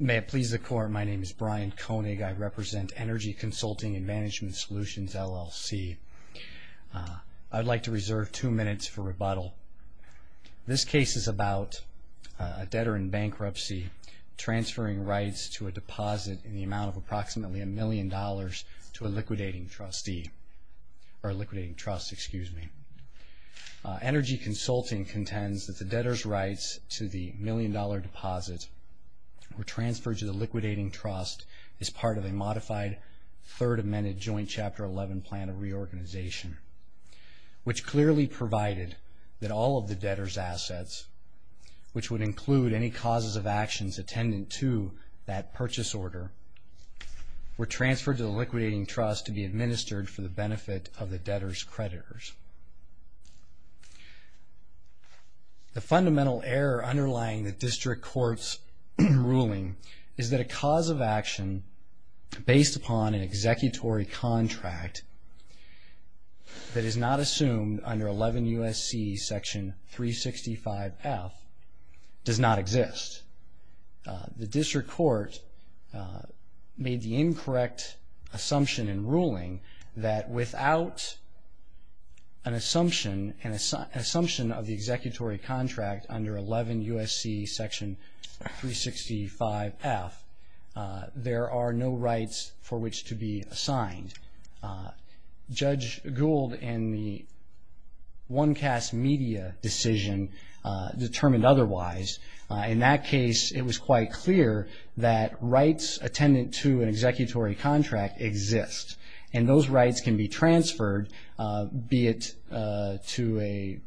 May it please the Court, my name is Brian Koenig. I represent Energy Consulting & Management Solutions, LLC. I'd like to reserve two minutes for rebuttal. This case is about a debtor in bankruptcy transferring rights to a deposit in the amount of approximately $1 million to a liquidating trust. Energy Consulting contends that the debtor's rights to the $1 million deposit were transferred to the liquidating trust as part of a modified Third Amendment Joint Chapter 11 Plan of Reorganization, which clearly provided that all of the debtor's assets, which would include any causes of actions attendant to that purchase order, were transferred to the liquidating trust to be administered for the benefit of the debtor's creditors. The fundamental error underlying the District Court's ruling is that a cause of action based upon an executory contract that is not assumed under 11 U.S.C. section 365F does not exist. The District Court made the incorrect assumption in ruling that without an assumption, an assumption of the executory contract under 11 U.S.C. section 365F, there are no rights for which to be assigned. Judge Gould in the OneCast media decision determined otherwise. In that case, it was quite clear that rights attendant to an executory contract exist, and those rights can be transferred, be it to a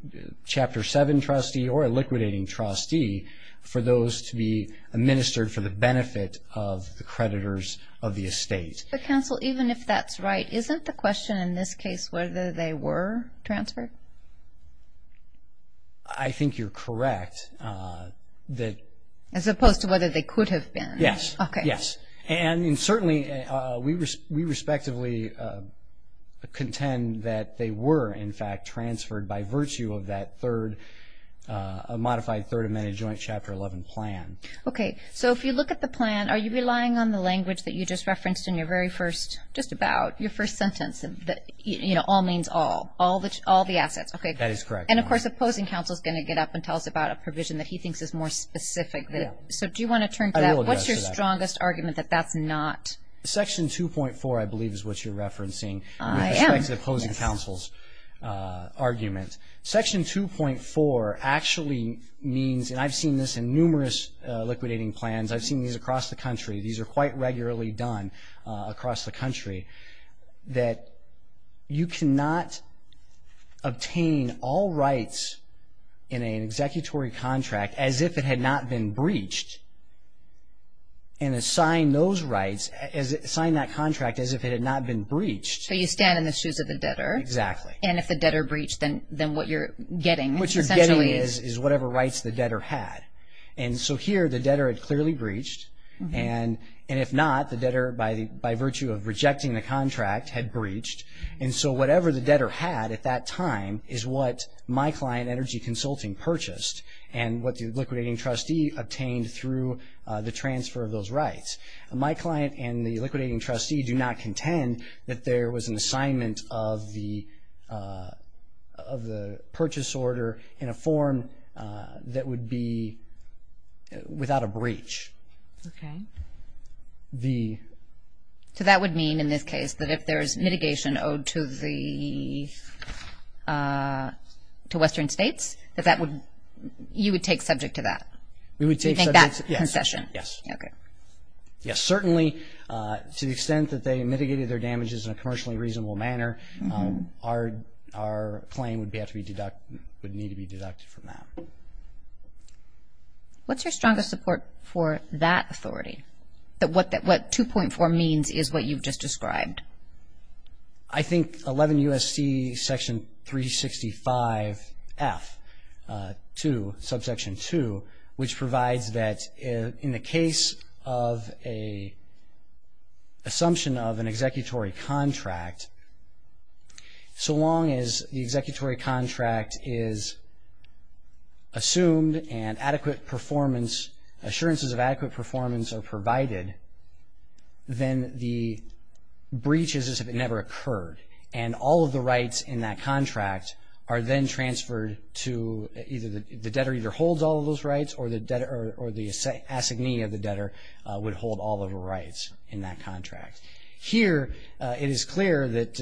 Chapter 7 trustee or a liquidating trustee, for those to be administered for the benefit of the creditors of the estate. But counsel, even if that's right, isn't the question in this case whether they were transferred? I think you're correct. As opposed to whether they could have been? Yes. Okay. Yes. And certainly, we respectively contend that they were, in fact, transferred by virtue of that third, a modified Third Amendment Joint Chapter 11 plan. Okay. So if you look at the plan, are you relying on the language that you just referenced in your very first, just about your first sentence, that, you know, all means all, all the assets? Okay. That is correct. And, of course, opposing counsel is going to get up and tell us about a provision that he thinks is more specific. So do you want to turn to that? I will address that. What's your strongest argument that that's not? Section 2.4, I believe, is what you're referencing with respect to opposing counsel's argument. Section 2.4 actually means, and I've seen this in numerous liquidating plans, I've seen these across the country, these are quite regularly done across the country, that you cannot obtain all rights in an executory contract as if it had not been breached and assign those rights, assign that contract as if it had not been breached. So you stand in the shoes of the debtor. Exactly. And if the debtor breached, then what you're getting, essentially. What you're getting is whatever rights the debtor had. And so here the debtor had clearly breached, and if not, the debtor, by virtue of rejecting the contract, had breached. And so whatever the debtor had at that time is what my client, Energy Consulting, purchased and what the liquidating trustee obtained through the transfer of those rights. My client and the liquidating trustee do not contend that there was an assignment of the purchase order in a form that would be without a breach. Okay. So that would mean, in this case, that if there's mitigation owed to Western states, that you would take subject to that? We would take subject, yes. Okay. Yes, certainly. To the extent that they mitigated their damages in a commercially reasonable manner, our claim would need to be deducted from that. What's your strongest support for that authority, that what 2.4 means is what you've just described? I think 11 U.S.C. section 365 F, 2, subsection 2, which provides that in the case of an assumption of an executory contract, so long as the executory contract is assumed and adequate performance, assurances of adequate performance are provided, then the breach is as if it never occurred, and all of the rights in that contract are then transferred to either the debtor either holds all of those rights or the assignee of the debtor would hold all of the rights in that contract. Here, it is clear that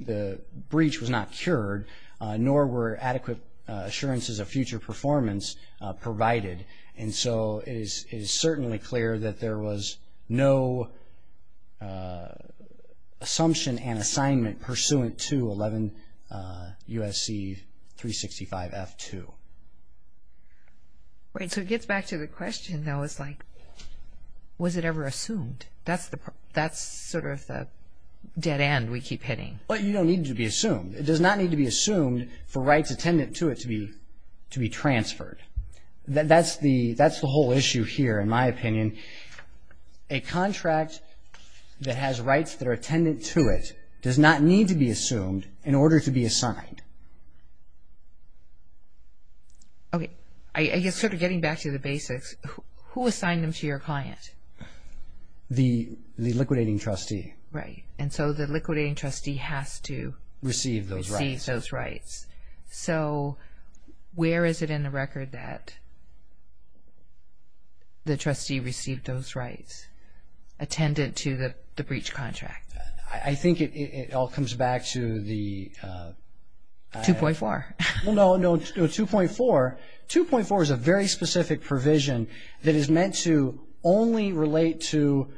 the breach was not cured, nor were adequate assurances of future performance provided, and so it is certainly clear that there was no assumption and assignment pursuant to 11 U.S.C. 365 F, 2. Right. So it gets back to the question, though, it's like, was it ever assumed? That's sort of the dead end we keep hitting. Well, you don't need it to be assumed. It does not need to be assumed for rights attendant to it to be transferred. That's the whole issue here, in my opinion. A contract that has rights that are attendant to it does not need to be assumed in order to be assigned. Okay. I guess sort of getting back to the basics, who assigned them to your client? The liquidating trustee. Right, and so the liquidating trustee has to receive those rights. So where is it in the record that the trustee received those rights attendant to the breach contract? I think it all comes back to the... 2.4. Well, no, no, 2.4. 2.4 is a very specific provision that is meant to only relate to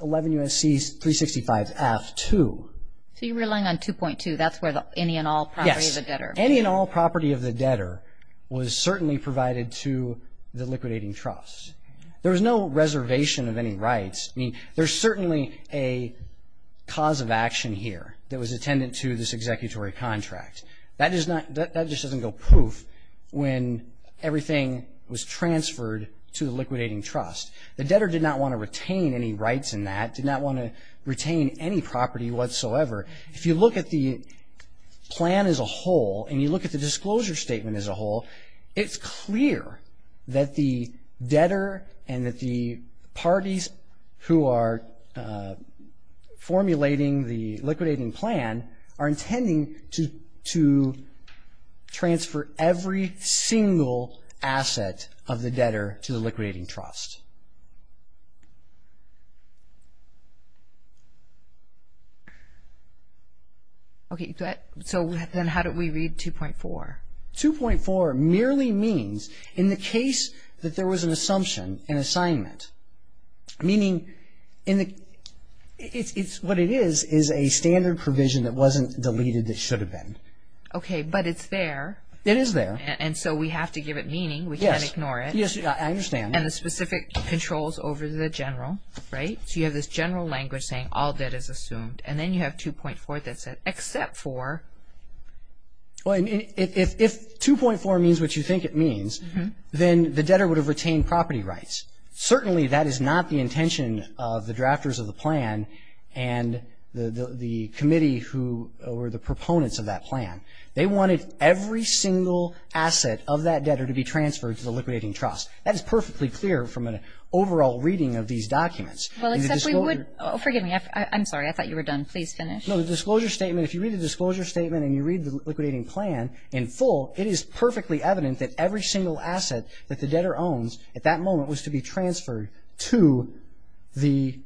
11 U.S.C. 365 F, 2. So you're relying on 2.2. That's where the any and all property of the debtor. Yes, any and all property of the debtor was certainly provided to the liquidating trust. There was no reservation of any rights. I mean, there's certainly a cause of action here that was attendant to this executory contract. That just doesn't go poof when everything was transferred to the liquidating trust. The debtor did not want to retain any rights in that, did not want to retain any property whatsoever. If you look at the plan as a whole and you look at the disclosure statement as a whole, it's clear that the debtor and that the parties who are formulating the liquidating plan are intending to transfer every single asset of the debtor to the liquidating trust. Okay, so then how do we read 2.4? 2.4 merely means in the case that there was an assumption, an assignment, meaning what it is is a standard provision that wasn't deleted that should have been. Okay, but it's there. It is there. And so we have to give it meaning. We can't ignore it. Yes, I understand. And the specific controls over the general, right? So you have this general language saying all debt is assumed. And then you have 2.4 that said except for. Well, if 2.4 means what you think it means, then the debtor would have retained property rights. Certainly that is not the intention of the drafters of the plan and the committee who were the proponents of that plan. They wanted every single asset of that debtor to be transferred to the liquidating trust. That is perfectly clear from an overall reading of these documents. Well, except we would – oh, forgive me. I'm sorry. I thought you were done. Please finish. No, the disclosure statement, if you read the disclosure statement and you read the liquidating plan in full, it is perfectly evident that every single asset that the debtor owns at that moment was to be transferred to the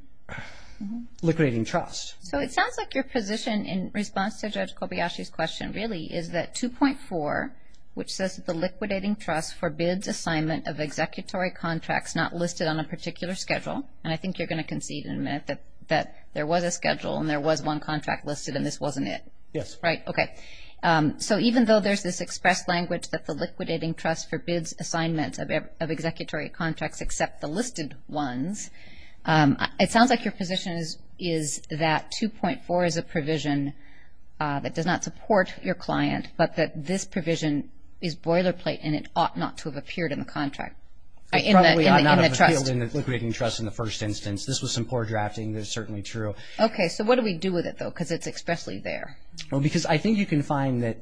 liquidating trust. So it sounds like your position in response to Judge Kobayashi's question really is that 2.4, which says that the liquidating trust forbids assignment of executory contracts not listed on a particular schedule, and I think you're going to concede in a minute that there was a schedule and there was one contract listed and this wasn't it. Yes. Right, okay. So even though there's this expressed language that the liquidating trust forbids assignment of executory contracts except the listed ones, it sounds like your position is that 2.4 is a provision that does not support your client but that this provision is boilerplate and it ought not to have appeared in the contract. It probably ought not have appeared in the liquidating trust in the first instance. This was some poor drafting. This is certainly true. Okay. So what do we do with it, though, because it's expressly there? Well, because I think you can find that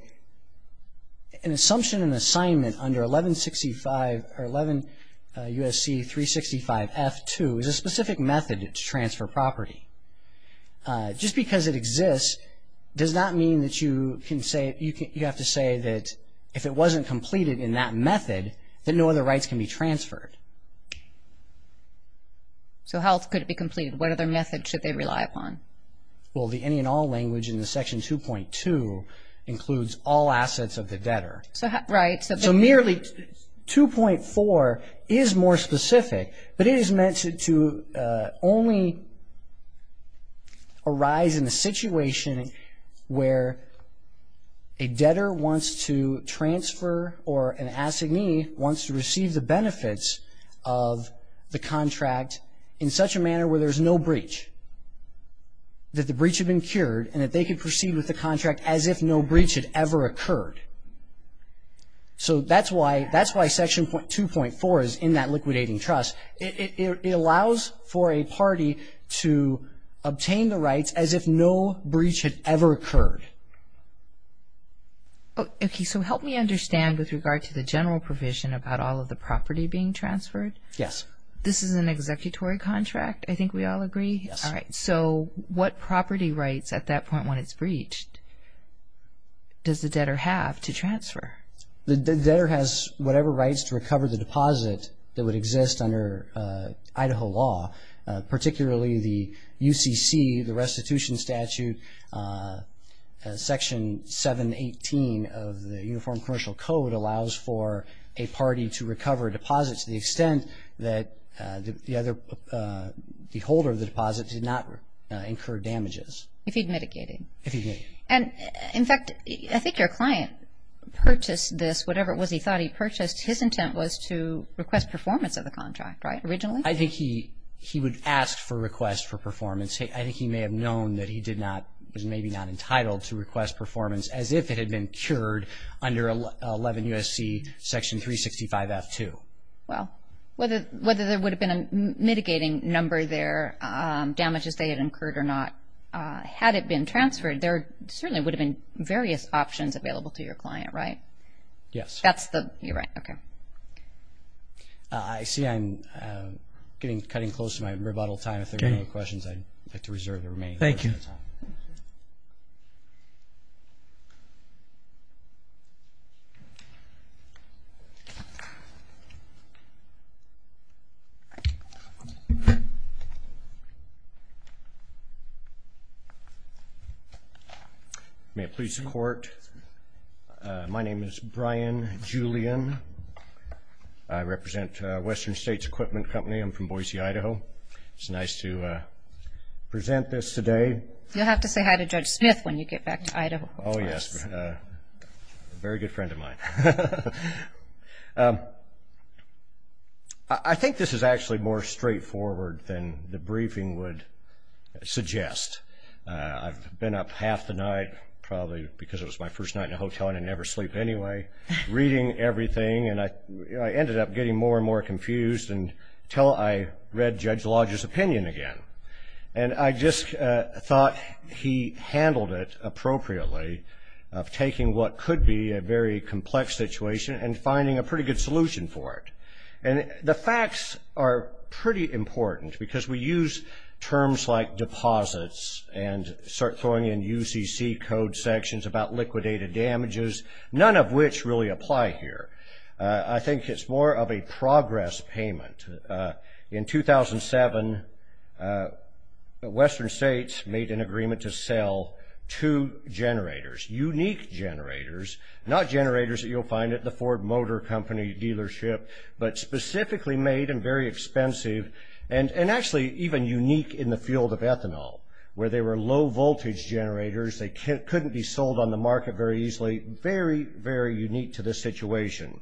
an assumption in assignment under 1165 or 11 U.S.C. 365 F2 is a specific method to transfer property. Just because it exists does not mean that you have to say that if it wasn't completed in that method, that no other rights can be transferred. So how could it be completed? What other methods should they rely upon? Well, the any and all language in the Section 2.2 includes all assets of the debtor. Right. So merely 2.4 is more specific, but it is meant to only arise in the situation where a debtor wants to transfer or an assignee wants to receive the benefits of the contract in such a manner where there's no breach, that the breach had been cured, and that they could proceed with the contract as if no breach had ever occurred. So that's why Section 2.4 is in that liquidating trust. It allows for a party to obtain the rights as if no breach had ever occurred. Okay. So help me understand with regard to the general provision about all of the property being transferred. Yes. This is an executory contract? I think we all agree? Yes. All right. So what property rights at that point when it's breached does the debtor have to transfer? The debtor has whatever rights to recover the deposit that would exist under Idaho law, particularly the UCC, the restitution statute. Section 718 of the Uniform Commercial Code allows for a party to recover deposits to the extent that the holder of the deposit did not incur damages. If he'd mitigated. If he'd mitigated. And, in fact, I think your client purchased this, whatever it was he thought he purchased, his intent was to request performance of the contract, right, originally? I think he would ask for a request for performance. I think he may have known that he was maybe not entitled to request performance as if it had been cured under 11 U.S.C. Section 365-F2. Well, whether there would have been a mitigating number there, damages they had incurred or not, had it been transferred there certainly would have been various options available to your client, right? Yes. That's the, you're right. Okay. I see I'm cutting close to my rebuttal time. If there are no more questions I'd like to reserve the remaining time. Thank you. Thank you. May it please the Court, my name is Brian Julian. I represent Western States Equipment Company. I'm from Boise, Idaho. It's nice to present this today. You'll have to say hi to Judge Smith when you get back to Idaho. Oh, yes. Very good friend of mine. I think this is actually more straightforward than the briefing would suggest. I've been up half the night, probably because it was my first night in a hotel and I never sleep anyway, reading everything, and I ended up getting more and more confused until I read Judge Lodge's opinion again. And I just thought he handled it appropriately of taking what could be a very complex situation and finding a pretty good solution for it. And the facts are pretty important because we use terms like deposits and start throwing in UCC code sections about liquidated damages, none of which really apply here. I think it's more of a progress payment. In 2007, Western States made an agreement to sell two generators, unique generators, not generators that you'll find at the Ford Motor Company dealership, but specifically made and very expensive and actually even unique in the field of ethanol, where they were low-voltage generators. They couldn't be sold on the market very easily. Very, very unique to this situation.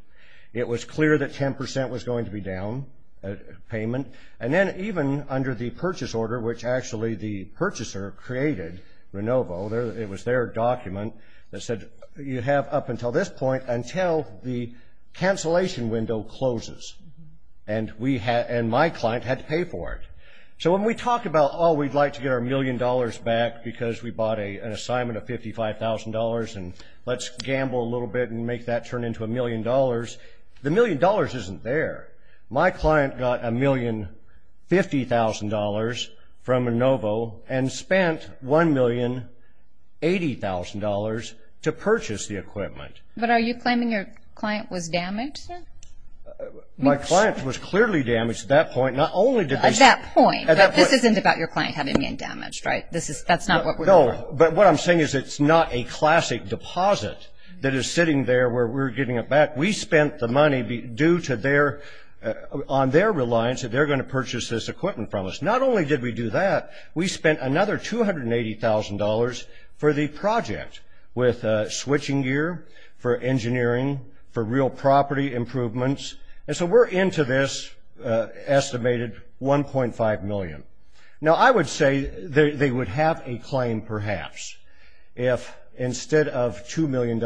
It was clear that 10% was going to be down payment. And then even under the purchase order, which actually the purchaser created, Renovo, it was their document that said you have up until this point until the cancellation window closes. And my client had to pay for it. So when we talked about, oh, we'd like to get our million dollars back because we bought an assignment of $55,000 and let's gamble a little bit and make that turn into a million dollars, the million dollars isn't there. My client got $1,050,000 from Renovo and spent $1,080,000 to purchase the equipment. But are you claiming your client was damaged? My client was clearly damaged at that point. At that point? At that point. This isn't about your client having been damaged, right? That's not what we're talking about. No, but what I'm saying is it's not a classic deposit that is sitting there where we're giving it back. We spent the money due to their – on their reliance that they're going to purchase this equipment from us. Not only did we do that, we spent another $280,000 for the project with switching gear, for engineering, for real property improvements. And so we're into this estimated $1.5 million. Now, I would say they would have a claim, perhaps, if instead of $2 million,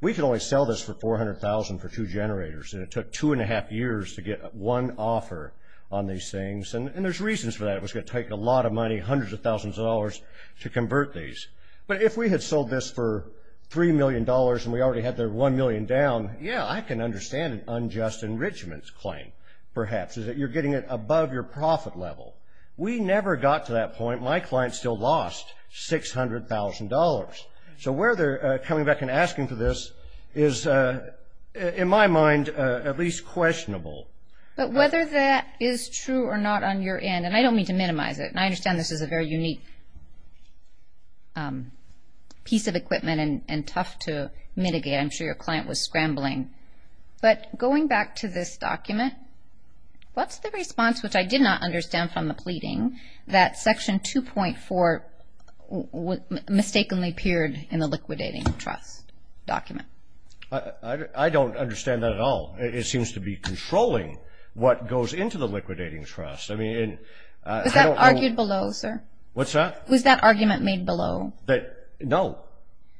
we could only sell this for $400,000 for two generators, and it took two and a half years to get one offer on these things. And there's reasons for that. It was going to take a lot of money, hundreds of thousands of dollars to convert these. But if we had sold this for $3 million and we already had their $1 million down, yeah, I can understand an unjust enrichment claim, perhaps, is that you're getting it above your profit level. We never got to that point. My client still lost $600,000. So where they're coming back and asking for this is, in my mind, at least questionable. But whether that is true or not on your end – and I don't mean to minimize it, and I understand this is a very unique piece of equipment and tough to mitigate. I'm sure your client was scrambling. But going back to this document, what's the response, which I did not understand from the pleading, that Section 2.4 mistakenly appeared in the liquidating trust document? I don't understand that at all. It seems to be controlling what goes into the liquidating trust. Was that argued below, sir? What's that? Was that argument made below? No.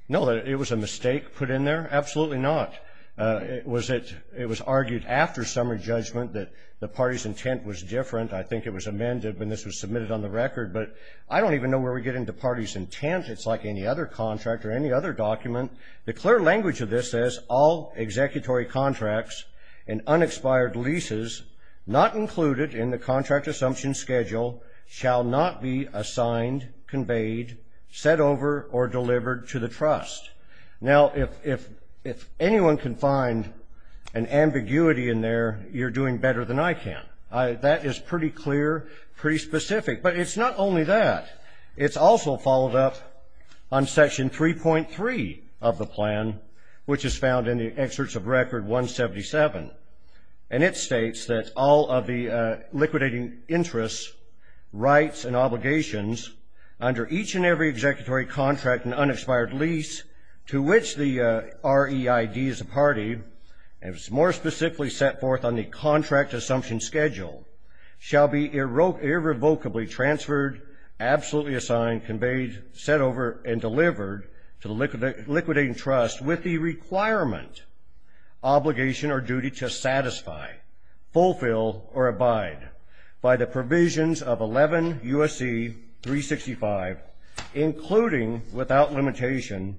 No, it was a mistake put in there? Absolutely not. It was argued after summary judgment that the party's intent was different. I think it was amended when this was submitted on the record. But I don't even know where we get into party's intent. It's like any other contract or any other document. The clear language of this says, all executory contracts and unexpired leases not included in the contract assumption schedule shall not be assigned, conveyed, set over, or delivered to the trust. Now, if anyone can find an ambiguity in there, you're doing better than I can. That is pretty clear, pretty specific. But it's not only that. It's also followed up on Section 3.3 of the plan, which is found in the excerpts of Record 177. And it states that all of the liquidating interests, rights, and obligations under each and every executory contract and unexpired lease to which the REID is a party, and is more specifically set forth on the contract assumption schedule, shall be irrevocably transferred, absolutely assigned, conveyed, set over, and delivered to the liquidating trust with the requirement, obligation, or duty to satisfy, fulfill, or abide by the provisions of 11 U.S.C. 365, including without limitation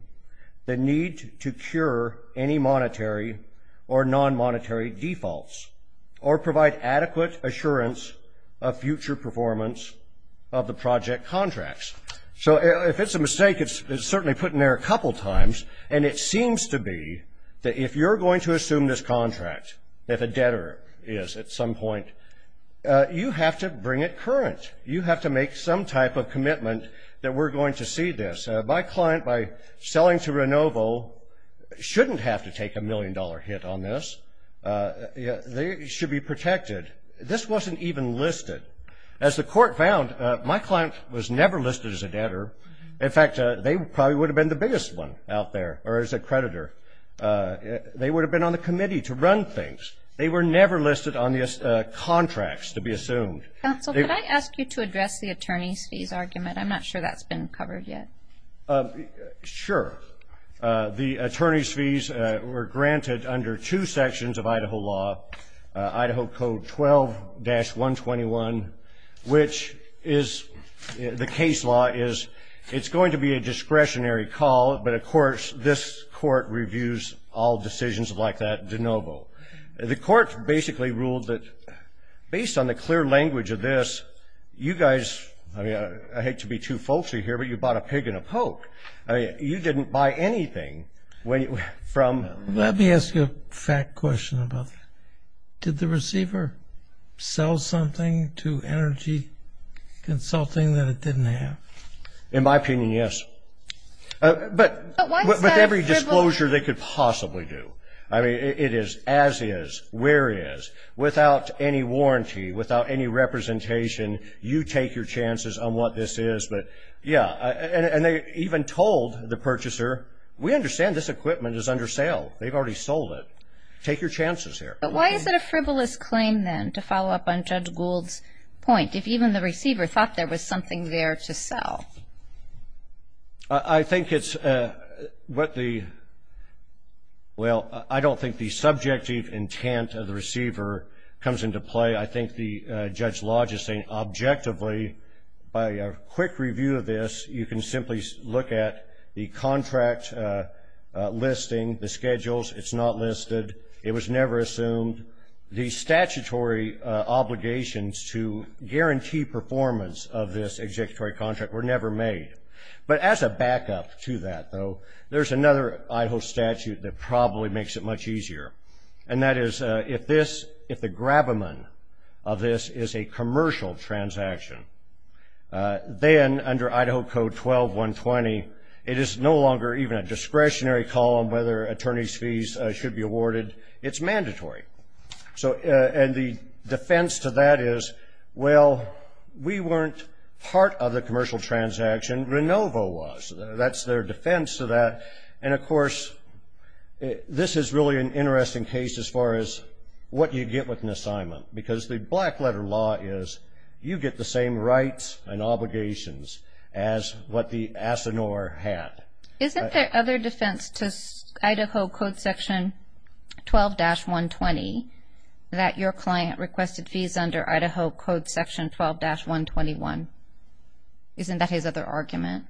the need to cure any monetary or non-monetary defaults or provide adequate assurance of future performance of the project contracts. So if it's a mistake, it's certainly put in there a couple times. And it seems to be that if you're going to assume this contract, if a debtor is at some point, you have to bring it current. You have to make some type of commitment that we're going to see this. My client, by selling to Renovo, shouldn't have to take a million-dollar hit on this. They should be protected. This wasn't even listed. As the court found, my client was never listed as a debtor. In fact, they probably would have been the biggest one out there, or as a creditor. They would have been on the committee to run things. They were never listed on the contracts, to be assumed. Counsel, could I ask you to address the attorney's fees argument? I'm not sure that's been covered yet. Sure. The attorney's fees were granted under two sections of Idaho law, Idaho Code 12-121, which is the case law is it's going to be a discretionary call, but, of course, this court reviews all decisions like that de novo. The court basically ruled that based on the clear language of this, you guys, I mean, I hate to be too faulty here, but you bought a pig and a poke. You didn't buy anything. Let me ask you a fact question about that. Did the receiver sell something to Energy Consulting that it didn't have? In my opinion, yes. But with every disclosure they could possibly do. I mean, it is as is, where is, without any warranty, without any representation, you take your chances on what this is. But, yeah, and they even told the purchaser, we understand this equipment is under sale. They've already sold it. Take your chances here. But why is it a frivolous claim, then, to follow up on Judge Gould's point, if even the receiver thought there was something there to sell? I think it's what the, well, I don't think the subjective intent of the receiver comes into play. I think Judge Lodge is saying, objectively, by a quick review of this, you can simply look at the contract listing, the schedules. It's not listed. It was never assumed. The statutory obligations to guarantee performance of this executive contract were never made. But as a backup to that, though, there's another Idaho statute that probably makes it much easier, and that is if this, if the grab-a-man of this is a commercial transaction, then under Idaho Code 12-120, it is no longer even a discretionary call on whether an attorney's fees should be awarded. It's mandatory. And the defense to that is, well, we weren't part of the commercial transaction. RENOVO was. That's their defense to that. And, of course, this is really an interesting case as far as what you get with an assignment, because the black-letter law is you get the same rights and obligations as what the ASINOR had. Isn't there other defense to Idaho Code Section 12-120, that your client requested fees under Idaho Code Section 12-121? Isn't that his other argument?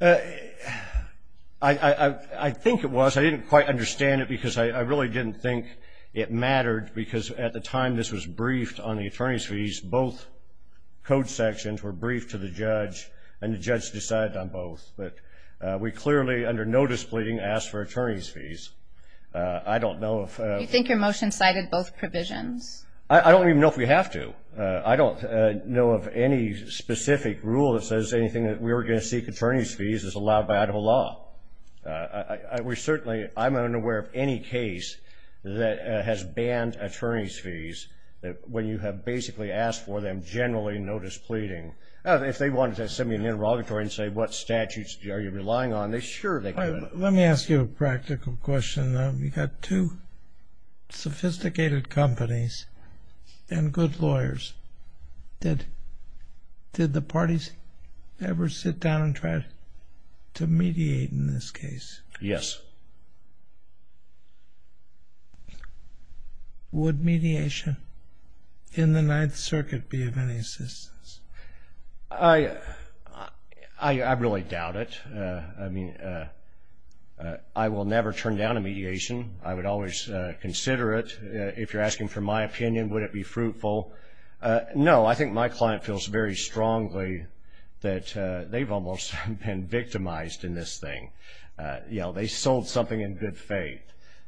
I think it was. I didn't quite understand it because I really didn't think it mattered, because at the time this was briefed on the attorney's fees, both code sections were briefed to the judge, and the judge decided on both. But we clearly, under no displeasing, asked for attorney's fees. I don't know if – Do you think your motion cited both provisions? I don't even know if we have to. I don't know of any specific rule that says anything that we were going to seek attorney's fees is allowed by Idaho law. Certainly, I'm unaware of any case that has banned attorney's fees when you have basically asked for them generally no displeasing. If they wanted to send me an interrogatory and say what statutes are you relying on, sure they could. Let me ask you a practical question. You've got two sophisticated companies and good lawyers. Did the parties ever sit down and try to mediate in this case? Yes. Would mediation in the Ninth Circuit be of any assistance? I really doubt it. I mean, I will never turn down a mediation. I would always consider it. If you're asking for my opinion, would it be fruitful? No. I think my client feels very strongly that they've almost been victimized in this thing. They sold something in good faith.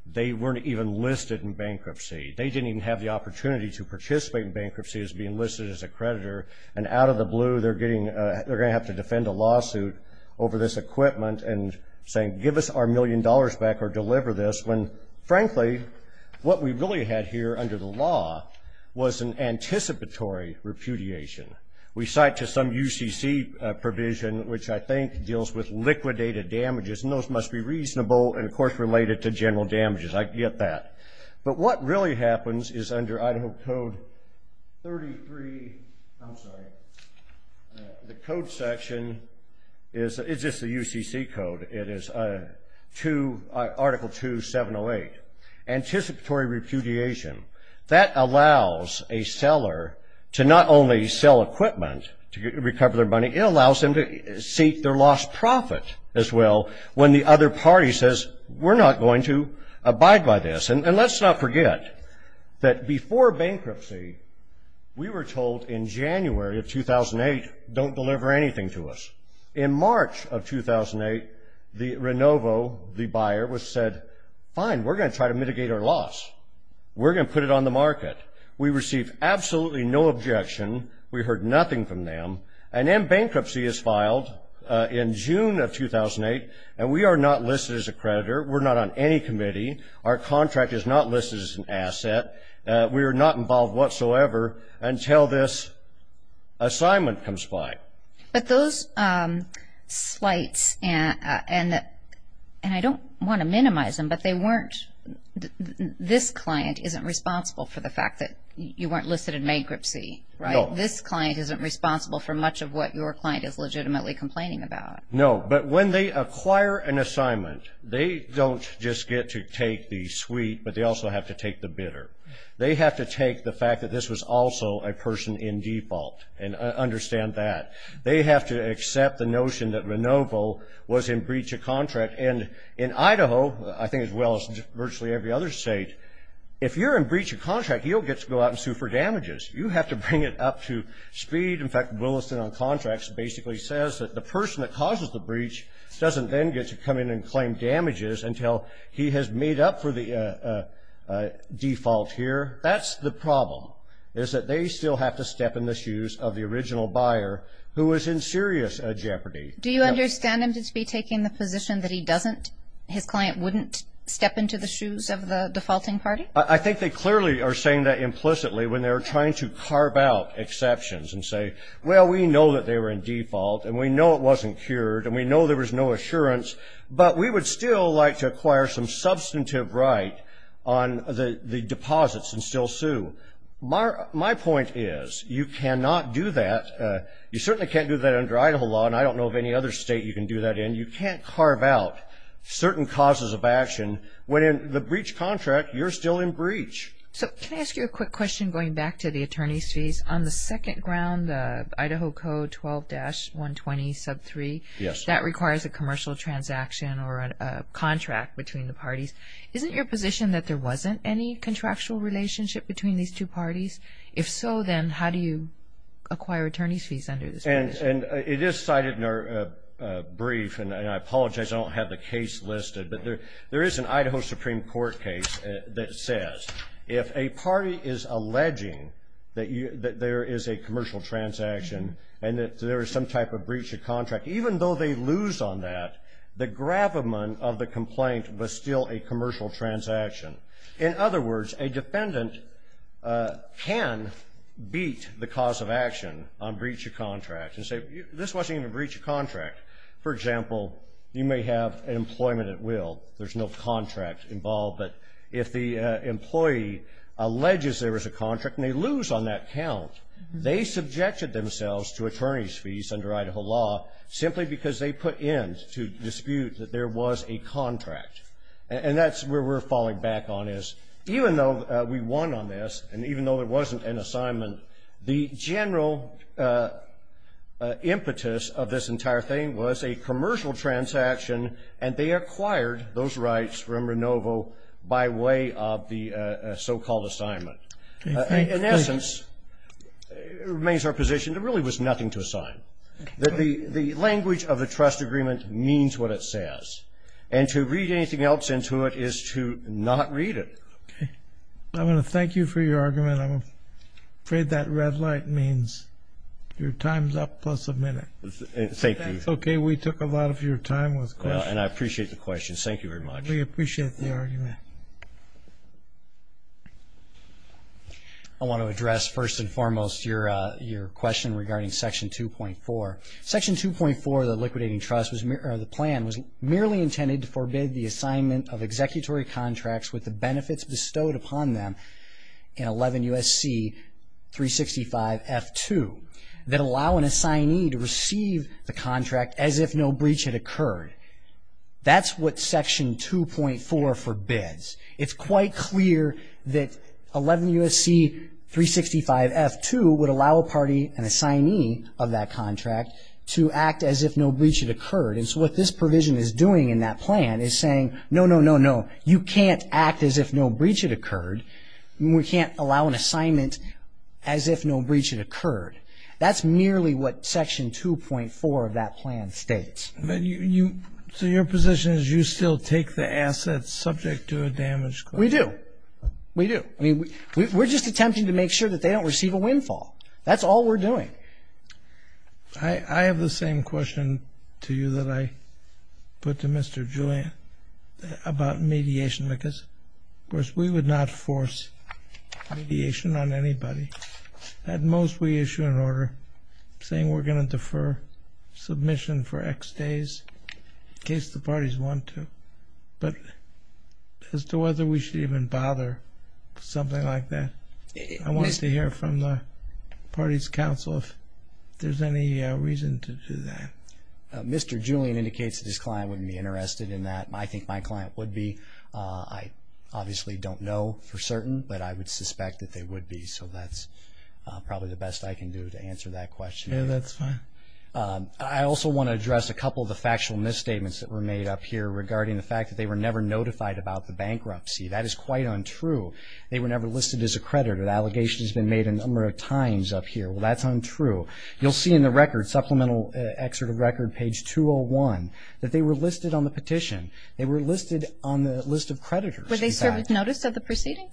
They weren't even listed in bankruptcy. They didn't even have the opportunity to participate in bankruptcy as being listed as a creditor, and out of the blue they're going to have to defend a lawsuit over this equipment and saying give us our million dollars back or deliver this when, frankly, what we really had here under the law was an anticipatory repudiation. We cite to some UCC provision, which I think deals with liquidated damages, and those must be reasonable and, of course, related to general damages. I get that. But what really happens is under Idaho Code 33, I'm sorry, the code section is just the UCC code. It is Article 2.708, anticipatory repudiation. That allows a seller to not only sell equipment to recover their money, it allows them to seek their lost profit as well when the other party says we're not going to abide by this. And let's not forget that before bankruptcy, we were told in January of 2008 don't deliver anything to us. In March of 2008, Renovo, the buyer, said fine, we're going to try to mitigate our loss. We're going to put it on the market. We received absolutely no objection. We heard nothing from them. And then bankruptcy is filed in June of 2008, and we are not listed as a creditor. We're not on any committee. Our contract is not listed as an asset. We are not involved whatsoever until this assignment comes by. But those slights, and I don't want to minimize them, but they weren't, this client isn't responsible for the fact that you weren't listed in bankruptcy, right? No. This client isn't responsible for much of what your client is legitimately complaining about. No. But when they acquire an assignment, they don't just get to take the suite, but they also have to take the bidder. They have to take the fact that this was also a person in default and understand that. They have to accept the notion that Renovo was in breach of contract. And in Idaho, I think as well as virtually every other state, if you're in breach of contract, you don't get to go out and sue for damages. You have to bring it up to speed. In fact, Williston on contracts basically says that the person that causes the breach doesn't then get to come in and claim damages until he has made up for the default here. That's the problem, is that they still have to step in the shoes of the original buyer who is in serious jeopardy. Do you understand him to be taking the position that he doesn't, his client wouldn't step into the shoes of the defaulting party? I think they clearly are saying that implicitly when they're trying to carve out exceptions and say, well, we know that they were in default, and we know it wasn't cured, and we know there was no assurance, but we would still like to acquire some substantive right on the deposits and still sue. My point is you cannot do that. You certainly can't do that under Idaho law, and I don't know of any other state you can do that in. You can't carve out certain causes of action when in the breach contract you're still in breach. So can I ask you a quick question going back to the attorney's fees? On the second ground, the Idaho Code 12-120 sub 3, that requires a commercial transaction or a contract between the parties. Isn't your position that there wasn't any contractual relationship between these two parties? If so, then how do you acquire attorney's fees under this position? And it is cited in our brief, and I apologize I don't have the case listed, but there is an Idaho Supreme Court case that says if a party is alleging that there is a commercial transaction and that there is some type of breach of contract, even though they lose on that, the gravamen of the complaint was still a commercial transaction. In other words, a defendant can beat the cause of action on breach of contract and say, this wasn't even a breach of contract. For example, you may have an employment at will. There's no contract involved. But if the employee alleges there was a contract and they lose on that count, they subjected themselves to attorney's fees under Idaho law simply because they put in to dispute that there was a contract. And that's where we're falling back on is even though we won on this and even though there wasn't an assignment, the general impetus of this entire thing was a commercial transaction, and they acquired those rights from Renovo by way of the so-called assignment. In essence, it remains our position there really was nothing to assign. The language of the trust agreement means what it says. And to read anything else into it is to not read it. Okay. I want to thank you for your argument. I'm afraid that red light means your time's up plus a minute. That's okay. We took a lot of your time with questions. And I appreciate the question. Thank you very much. We appreciate the argument. I want to address first and foremost your question regarding Section 2.4. Section 2.4 of the Liquidating Trust, or the plan, was merely intended to forbid the assignment of executory contracts with the benefits bestowed upon them in 11 U.S.C. 365 F2 that allow an assignee to receive the contract as if no breach had occurred. That's what Section 2.4 forbids. It's quite clear that 11 U.S.C. 365 F2 would allow a party, an assignee of that contract, to act as if no breach had occurred. And so what this provision is doing in that plan is saying, no, no, no, no. You can't act as if no breach had occurred. We can't allow an assignment as if no breach had occurred. That's merely what Section 2.4 of that plan states. So your position is you still take the assets subject to a damage claim? We do. We do. We're just attempting to make sure that they don't receive a windfall. That's all we're doing. I have the same question to you that I put to Mr. Julian about mediation because, of course, we would not force mediation on anybody. At most, we issue an order saying we're going to defer submission for X days in case the parties want to. But as to whether we should even bother with something like that, I wanted to hear from the parties' counsel if there's any reason to do that. Mr. Julian indicates that his client wouldn't be interested in that. I think my client would be. I obviously don't know for certain, but I would suspect that they would be. So that's probably the best I can do to answer that question. Yeah, that's fine. I also want to address a couple of the factual misstatements that were made up here regarding the fact that they were never notified about the bankruptcy. That is quite untrue. They were never listed as a creditor. The allegation has been made a number of times up here. Well, that's untrue. You'll see in the record, supplemental excerpt of record, page 201, that they were listed on the petition. They were listed on the list of creditors. Were they served with notice of the proceeding?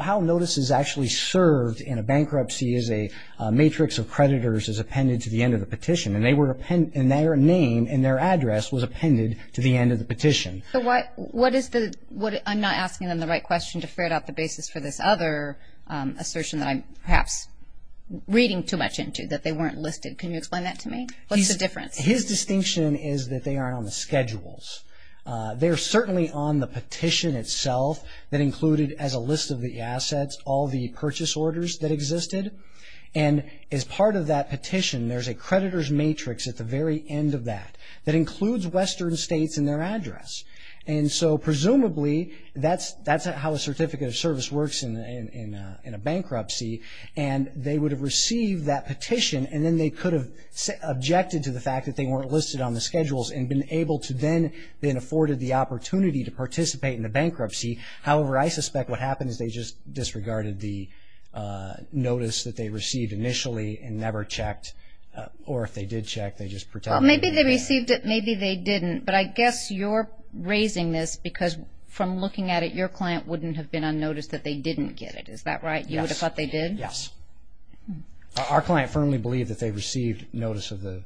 How notice is actually served in a bankruptcy is a matrix of creditors is appended to the end of the petition, and their name and their address was appended to the end of the petition. I'm not asking them the right question to ferret out the basis for this other assertion that I'm perhaps reading too much into, that they weren't listed. Can you explain that to me? What's the difference? His distinction is that they aren't on the schedules. They're certainly on the petition itself that included as a list of the assets all the purchase orders that existed. And as part of that petition, there's a creditor's matrix at the very end of that that includes Western states and their address. And so presumably, that's how a certificate of service works in a bankruptcy, and they would have received that petition, and then they could have objected to the fact that they weren't listed on the schedules and been able to then afforded the opportunity to participate in the bankruptcy. However, I suspect what happened is they just disregarded the notice that they received initially and never checked, or if they did check, they just protected it. Well, maybe they received it, maybe they didn't. But I guess you're raising this because from looking at it, your client wouldn't have been unnoticed that they didn't get it. Is that right? You would have thought they did? Yes. Our client firmly believed that they received notice of the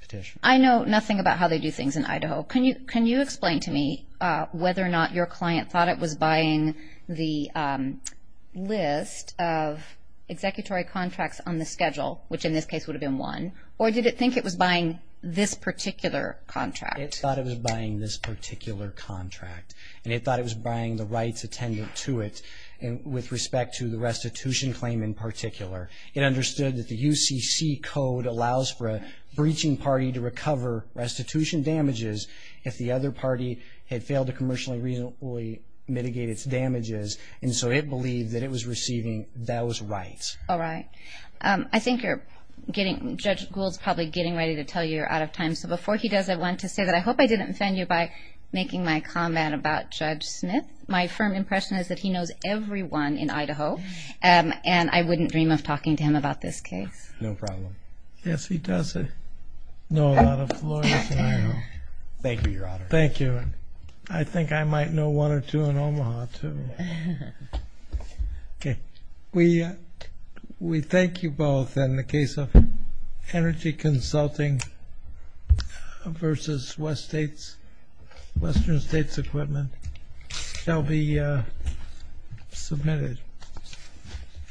petition. I know nothing about how they do things in Idaho. Can you explain to me whether or not your client thought it was buying the list of executory contracts on the schedule, which in this case would have been one, or did it think it was buying this particular contract? It thought it was buying this particular contract, and it thought it was buying the rights attendant to it with respect to the restitution claim in particular. It understood that the UCC code allows for a breaching party to recover restitution damages if the other party had failed to commercially reasonably mitigate its damages, and so it believed that it was receiving those rights. All right. I think Judge Gould is probably getting ready to tell you you're out of time, so before he does, I want to say that I hope I didn't offend you by making my comment about Judge Smith. My firm impression is that he knows everyone in Idaho, and I wouldn't dream of talking to him about this case. No problem. Yes, he does know a lot of lawyers in Idaho. Thank you, Your Honor. Thank you. I think I might know one or two in Omaha too. Okay. We thank you both, and the case of Energy Consulting v. Western States Equipment shall be submitted.